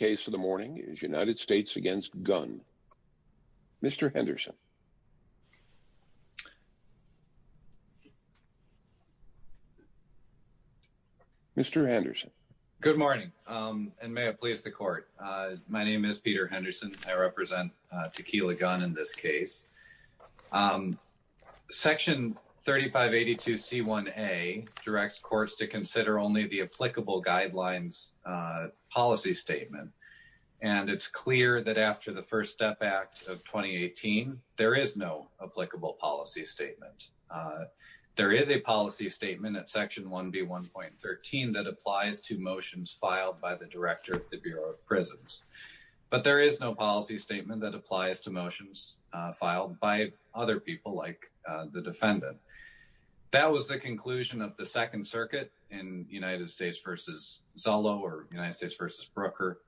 The first case of the morning is United States v. Gunn. Mr. Henderson. Mr. Henderson. Good morning, and may it please the Court. My name is Peter Henderson. I represent Tequila Gunn in this case. Section 3582C1A directs courts to consider only the applicable guidelines policy statement. And it's clear that after the First Step Act of 2018, there is no applicable policy statement. There is a policy statement at Section 1B1.13 that applies to motions filed by the Director of the Bureau of Prisons. But there is no policy statement that applies to motions filed by other people like the defendant. That was the conclusion of the Second Circuit in United States v. Zollo or United States v. Brooker.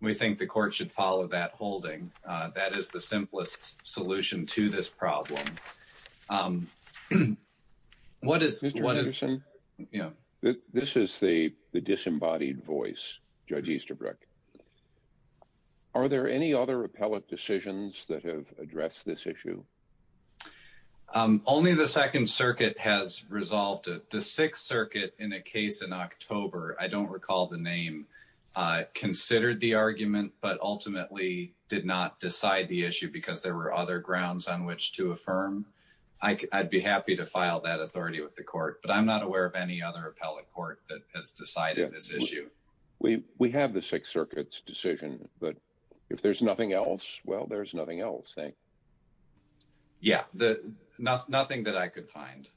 We think the court should follow that holding. That is the simplest solution to this problem. Mr. Henderson, this is the disembodied voice, Judge Easterbrook. Are there any other appellate decisions that have addressed this issue? Only the Second Circuit has resolved it. The Sixth Circuit in a case in October, I don't recall the name, considered the argument, but ultimately did not decide the issue because there were other grounds on which to affirm. I'd be happy to file that authority with the court, but I'm not aware of any other appellate court that has decided this issue. We have the Sixth Circuit's decision, but if there's nothing else, well, there's nothing else. Yeah, nothing that I could find.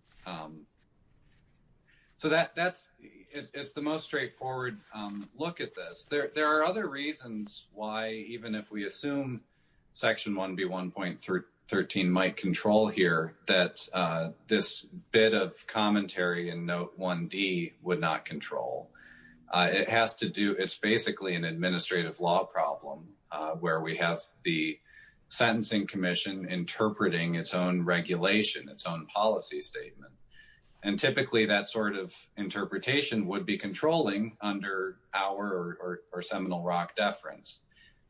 So it's the most straightforward look at this. There are other reasons why, even if we assume Section 1B1.13 might control here, that this bit of commentary in Note 1D would not control. It's basically an administrative law problem where we have the Sentencing Commission interpreting its own regulation, its own policy statement. And typically that sort of interpretation would be controlling under our or Seminole Rock deference.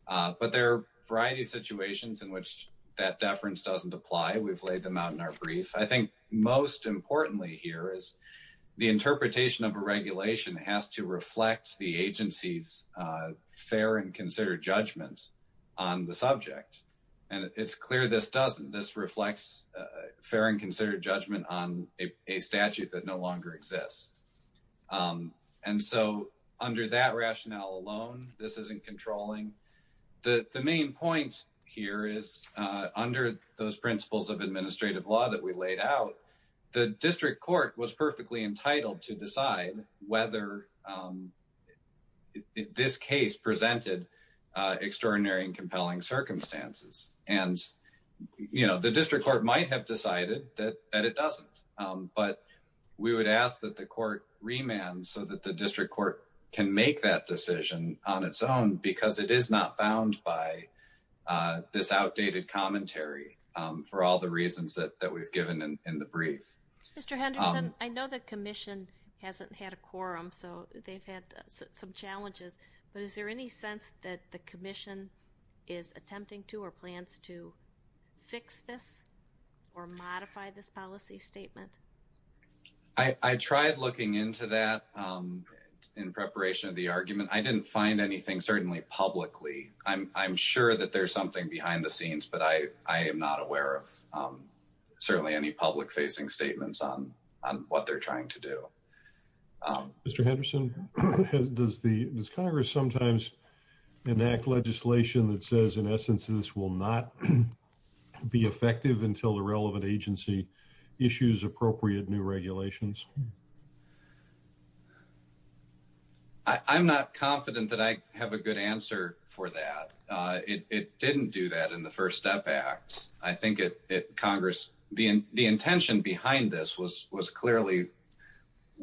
But there are a variety of situations in which that deference doesn't apply. We've laid them out in our brief. I think most importantly here is the interpretation of a regulation has to reflect the agency's fair and considered judgment on the subject. And it's clear this doesn't. This reflects fair and considered judgment on a statute that no longer exists. And so under that rationale alone, this isn't controlling. The main point here is under those principles of administrative law that we laid out, the district court was perfectly entitled to decide whether this case presented extraordinary and compelling circumstances. And, you know, the district court might have decided that it doesn't. But we would ask that the court remand so that the district court can make that decision on its own, because it is not bound by this outdated commentary for all the reasons that we've given in the brief. Mr. Henderson, I know the commission hasn't had a quorum, so they've had some challenges. But is there any sense that the commission is attempting to or plans to fix this or modify this policy statement? I tried looking into that in preparation of the argument. I didn't find anything, certainly publicly. I'm sure that there's something behind the scenes, but I am not aware of certainly any public facing statements on what they're trying to do. Mr. Henderson, does Congress sometimes enact legislation that says, in essence, this will not be effective until the relevant agency issues appropriate new regulations? I'm not confident that I have a good answer for that. It didn't do that in the First Step Act. I think Congress, the intention behind this was clearly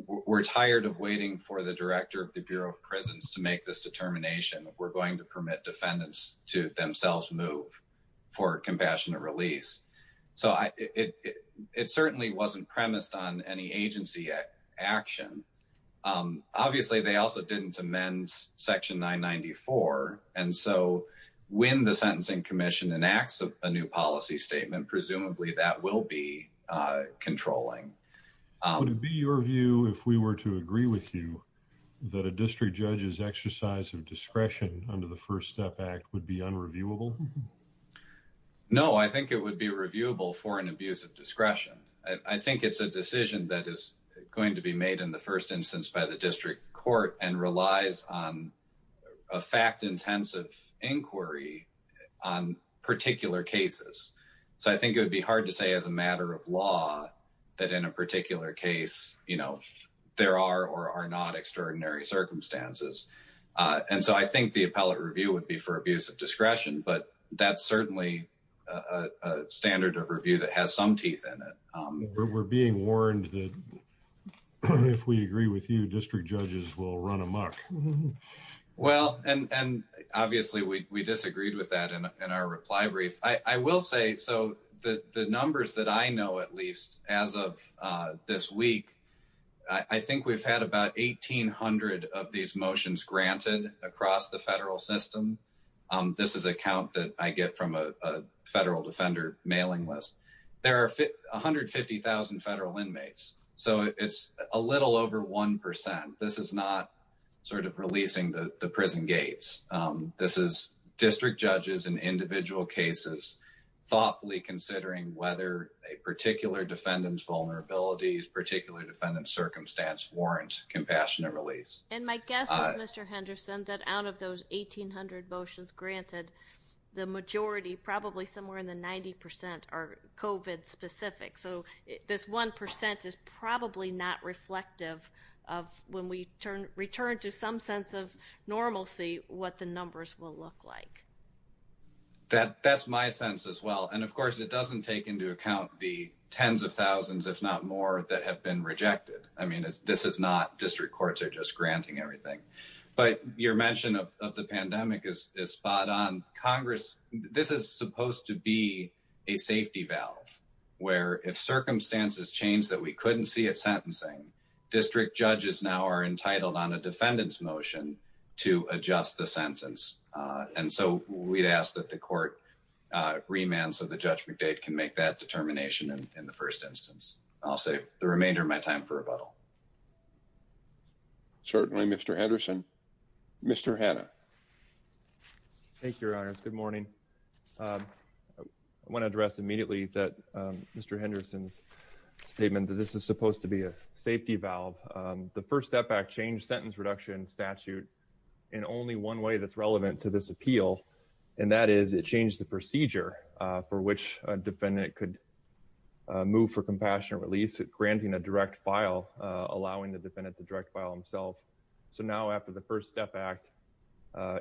we're tired of waiting for the director of the Bureau of Prisons to make this determination. We're going to permit defendants to themselves move for compassionate release. So it certainly wasn't premised on any agency action. Obviously, they also didn't amend Section 994. And so when the Sentencing Commission enacts a new policy statement, presumably that will be controlling. Would it be your view, if we were to agree with you, that a district judge's exercise of discretion under the First Step Act would be unreviewable? No, I think it would be reviewable for an abuse of discretion. I think it's a decision that is going to be made in the first instance by the district court and relies on a fact intensive inquiry on particular cases. So I think it would be hard to say as a matter of law that in a particular case, you know, there are or are not extraordinary circumstances. And so I think the appellate review would be for abuse of discretion. But that's certainly a standard of review that has some teeth in it. We're being warned that if we agree with you, district judges will run amok. Well, and obviously we disagreed with that in our reply brief. I will say, so the numbers that I know, at least as of this week, I think we've had about 1,800 of these motions granted across the federal system. This is a count that I get from a federal defender mailing list. There are 150,000 federal inmates. So it's a little over one percent. This is not sort of releasing the prison gates. This is district judges in individual cases, thoughtfully considering whether a particular defendant's vulnerabilities, particular defendant's circumstance warrant compassionate release. And my guess is, Mr. Henderson, that out of those 1,800 motions granted, the majority, probably somewhere in the 90 percent are COVID specific. So this one percent is probably not reflective of when we return to some sense of normalcy, what the numbers will look like. That's my sense as well. And, of course, it doesn't take into account the tens of thousands, if not more, that have been rejected. I mean, this is not district courts are just granting everything. But your mention of the pandemic is spot on. Congress, this is supposed to be a safety valve where if circumstances change that we couldn't see it sentencing district judges now are entitled on a defendant's motion to adjust the sentence. And so we'd ask that the court remands of the judgment date can make that determination in the first instance. I'll save the remainder of my time for rebuttal. Certainly, Mr. Henderson. Mr. Hanna. Thank you, Your Honors. Good morning. I want to address immediately that Mr. Henderson's statement that this is supposed to be a safety valve. The First Step Act changed sentence reduction statute in only one way that's relevant to this appeal. And that is it changed the procedure for which a defendant could move for compassionate release, granting a direct file, allowing the defendant to direct file himself. So now after the First Step Act,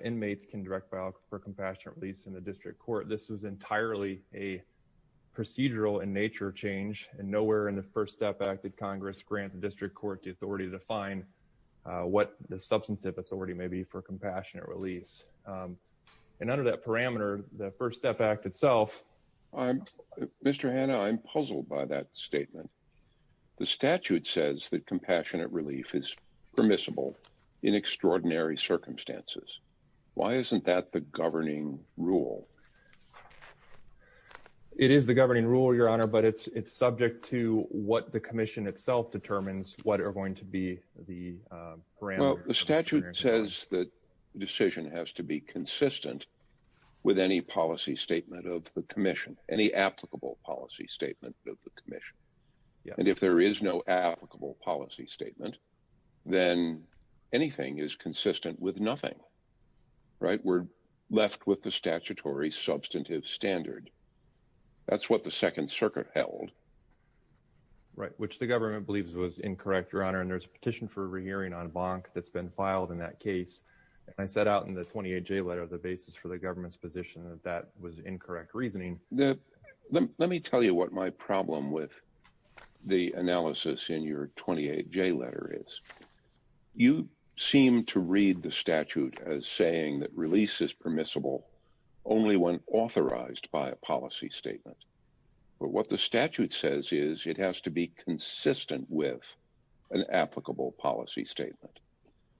inmates can direct file for compassionate release in the district court. This was entirely a procedural in nature change and nowhere in the First Step Act that Congress grant the district court the authority to define what the substantive authority may be for compassionate release. And under that parameter, the First Step Act itself. Mr. Hanna, I'm puzzled by that statement. The statute says that compassionate relief is permissible in extraordinary circumstances. Why isn't that the governing rule? It is the governing rule, Your Honor, but it's subject to what the commission itself determines what are going to be the parameters. The statute says that the decision has to be consistent with any policy statement of the commission, any applicable policy statement of the commission. And if there is no applicable policy statement, then anything is consistent with nothing. Right. We're left with the statutory substantive standard. That's what the Second Circuit held. Right. Which the government believes was incorrect, Your Honor. And there's a petition for a hearing on Bonk that's been filed in that case. I set out in the 28-J letter the basis for the government's position that that was incorrect reasoning. Let me tell you what my problem with the analysis in your 28-J letter is. You seem to read the statute as saying that release is permissible only when authorized by a policy statement. But what the statute says is it has to be consistent with an applicable policy statement.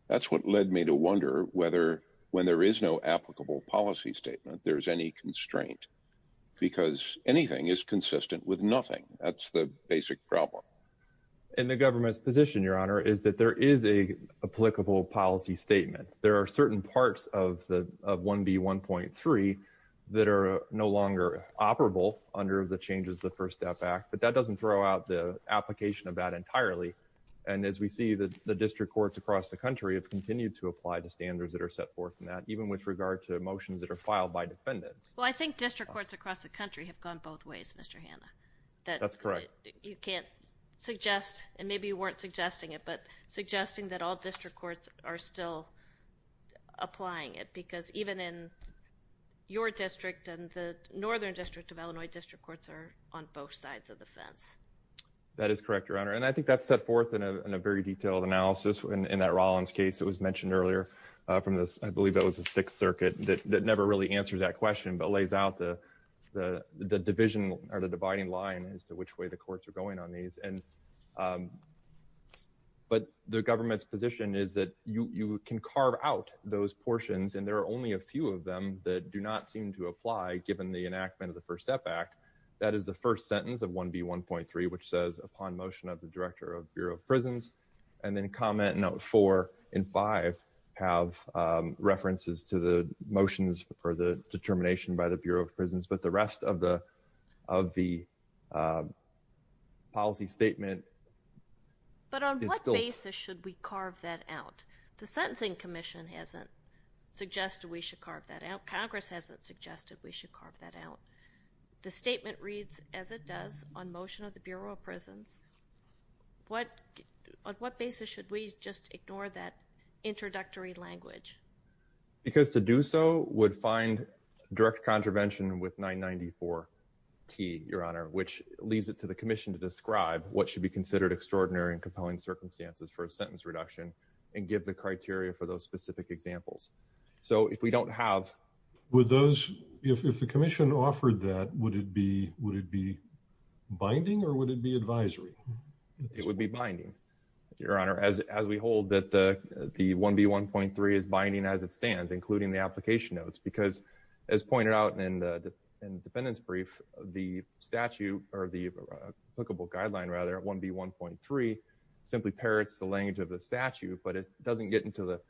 That's what led me to wonder whether when there is no applicable policy statement, there is any constraint because anything is consistent with nothing. That's the basic problem. And the government's position, Your Honor, is that there is a applicable policy statement. There are certain parts of 1B1.3 that are no longer operable under the changes to the First Step Act. But that doesn't throw out the application of that entirely. And as we see, the district courts across the country have continued to apply the standards that are set forth in that, even with regard to motions that are filed by defendants. Well, I think district courts across the country have gone both ways, Mr. Hanna. That's correct. So you can't suggest, and maybe you weren't suggesting it, but suggesting that all district courts are still applying it because even in your district and the Northern District of Illinois, district courts are on both sides of the fence. That is correct, Your Honor. And I think that's set forth in a very detailed analysis in that Rollins case that was mentioned earlier. I believe that was the Sixth Circuit. That never really answers that question, but lays out the division or the dividing line as to which way the courts are going on these. But the government's position is that you can carve out those portions, and there are only a few of them that do not seem to apply given the enactment of the First Step Act. That is the first sentence of 1B1.3, which says, upon motion of the Director of Bureau of Prisons, and then Comment Note 4 and 5 have references to the motions or the determination by the Bureau of Prisons, but the rest of the policy statement is still- But on what basis should we carve that out? The Sentencing Commission hasn't suggested we should carve that out. Congress hasn't suggested we should carve that out. The statement reads, as it does on motion of the Bureau of Prisons, on what basis should we just ignore that introductory language? Because to do so would find direct contravention with 994T, Your Honor, which leads it to the Commission to describe what should be considered extraordinary and compelling circumstances for a sentence reduction and give the criteria for those specific examples. So if we don't have- If the Commission offered that, would it be binding or would it be advisory? It would be binding, Your Honor, as we hold that the 1B1.3 is binding as it stands, including the application notes, because as pointed out in the dependence brief, the statute or the applicable guideline, rather, 1B1.3 simply parrots the language of the statute, but it doesn't get into the-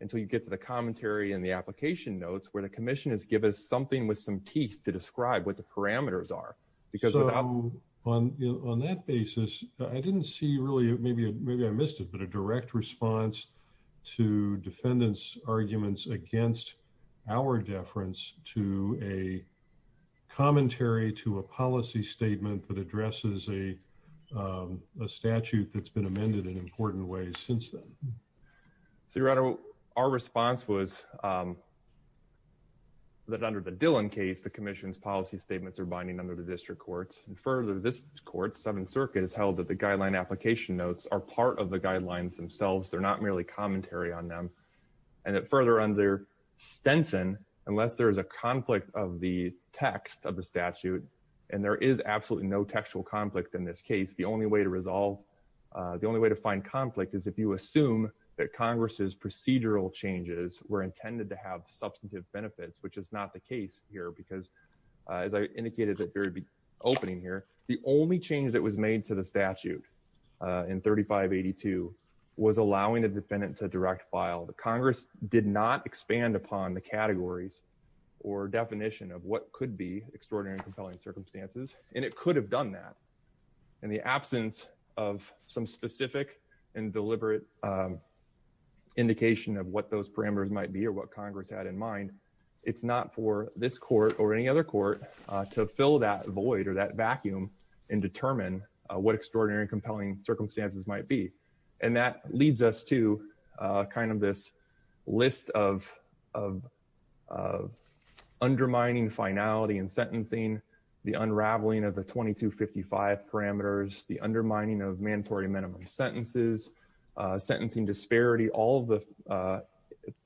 until you get to the commentary and the application notes, where the Commission has given us something with some teeth to describe what the parameters are. So on that basis, I didn't see really- maybe I missed it, but a direct response to defendants' arguments against our deference to a commentary to a policy statement that addresses a statute that's been amended in important ways since then. So, Your Honor, our response was that under the Dillon case, the Commission's policy statements are binding under the district courts. And further, this court, Seventh Circuit, has held that the guideline application notes are part of the guidelines themselves. They're not merely commentary on them. And that further under Stenson, unless there is a conflict of the text of the statute, and there is absolutely no textual conflict in this case, the only way to resolve- the only way to find conflict is if you assume that Congress's procedural changes were intended to have substantive benefits, which is not the case here, because as I indicated at the opening here, the only change that was made to the statute in 3582 was allowing a defendant to direct file. Congress did not expand upon the categories or definition of what could be extraordinary and compelling circumstances, and it could have done that. In the absence of some specific and deliberate indication of what those parameters might be or what Congress had in mind, it's not for this court or any other court to fill that void or that vacuum and determine what extraordinary and compelling circumstances might be. And that leads us to kind of this list of undermining finality in sentencing, the unraveling of the 2255 parameters, the undermining of mandatory minimum sentences, sentencing disparity, all of the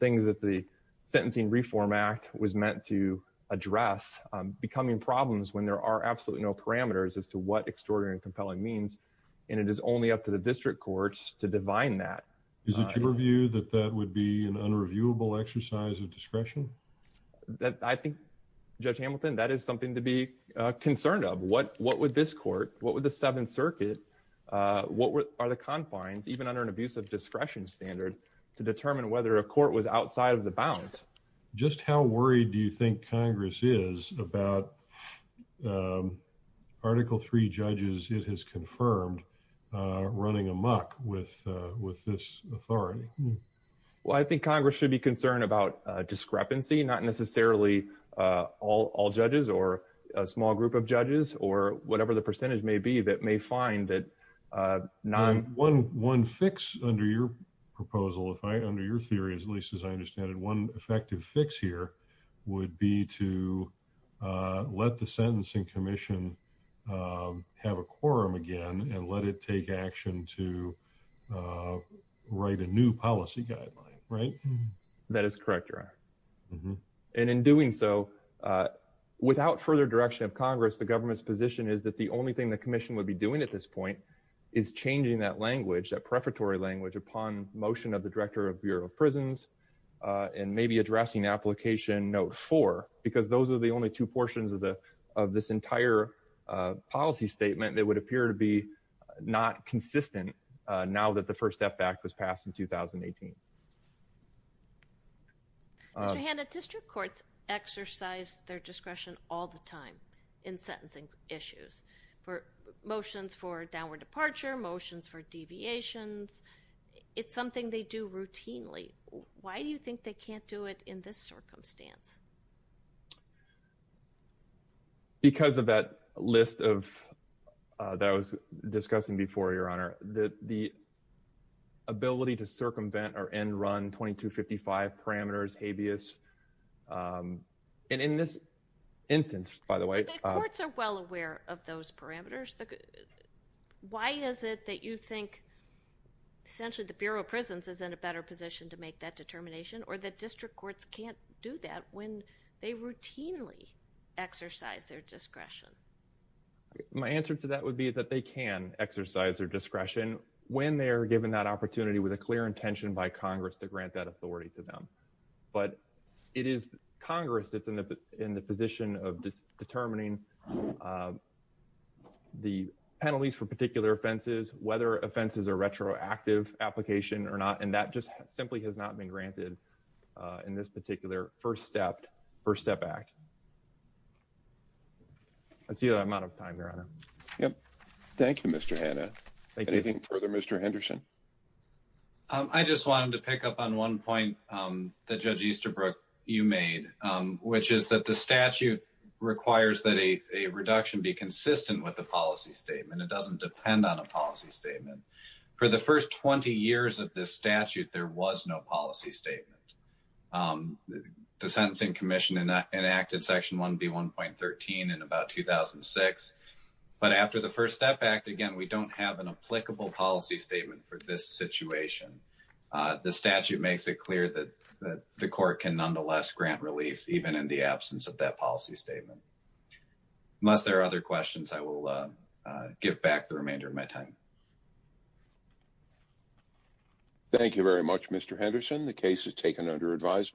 things that the Sentencing Reform Act was meant to address, becoming problems when there are absolutely no parameters as to what extraordinary and compelling means, and it is only up to the district courts to divine that. Is it your view that that would be an unreviewable exercise of discretion? I think, Judge Hamilton, that is something to be concerned of. What would this court, what would the Seventh Circuit, what are the confines, even under an abuse of discretion standard, to determine whether a court was outside of the bounds? Just how worried do you think Congress is about Article 3 judges, it has confirmed, running amok with this authority? Well, I think Congress should be concerned about discrepancy, not necessarily all judges or a small group of judges or whatever the percentage may be that may find that. One fix under your proposal, under your theory, at least as I understand it, one effective fix here would be to let the sentencing commission have a quorum again and let it take action to write a new policy guideline, right? That is correct, Your Honor. And in doing so, without further direction of Congress, the government's position is that the only thing the commission would be doing at this point is changing that language, that prefatory language, upon motion of the Director of Bureau of Prisons and maybe addressing application note 4, because those are the only two portions of this entire policy statement that would appear to be not consistent now that the First Step Act was passed in 2018. Mr. Hanna, district courts exercise their discretion all the time in sentencing issues for motions for downward departure, motions for deviations. It's something they do routinely. Why do you think they can't do it in this circumstance? Because of that list that I was discussing before, Your Honor, the ability to circumvent or end-run 2255 parameters, habeas, and in this instance, by the way— But the courts are well aware of those parameters. Why is it that you think essentially the Bureau of Prisons is in a better position to make that determination or that district courts can't do that when they routinely exercise their discretion? My answer to that would be that they can exercise their discretion when they are given that opportunity with a clear intention by Congress to grant that authority to them. But it is Congress that's in the position of determining the penalties for particular offenses, whether offenses are retroactive application or not, and that just simply has not been granted in this particular First Step Act. That's the amount of time, Your Honor. Thank you, Mr. Hanna. Anything further, Mr. Henderson? I just wanted to pick up on one point that Judge Easterbrook, you made, which is that the statute requires that a reduction be consistent with a policy statement. It doesn't depend on a policy statement. For the first 20 years of this statute, there was no policy statement. The Sentencing Commission enacted Section 1B1.13 in about 2006. But after the First Step Act, again, we don't have an applicable policy statement for this situation. The statute makes it clear that the court can nonetheless grant relief, even in the absence of that policy statement. Unless there are other questions, I will give back the remainder of my time. Thank you very much, Mr. Henderson. Thank you, Your Honor.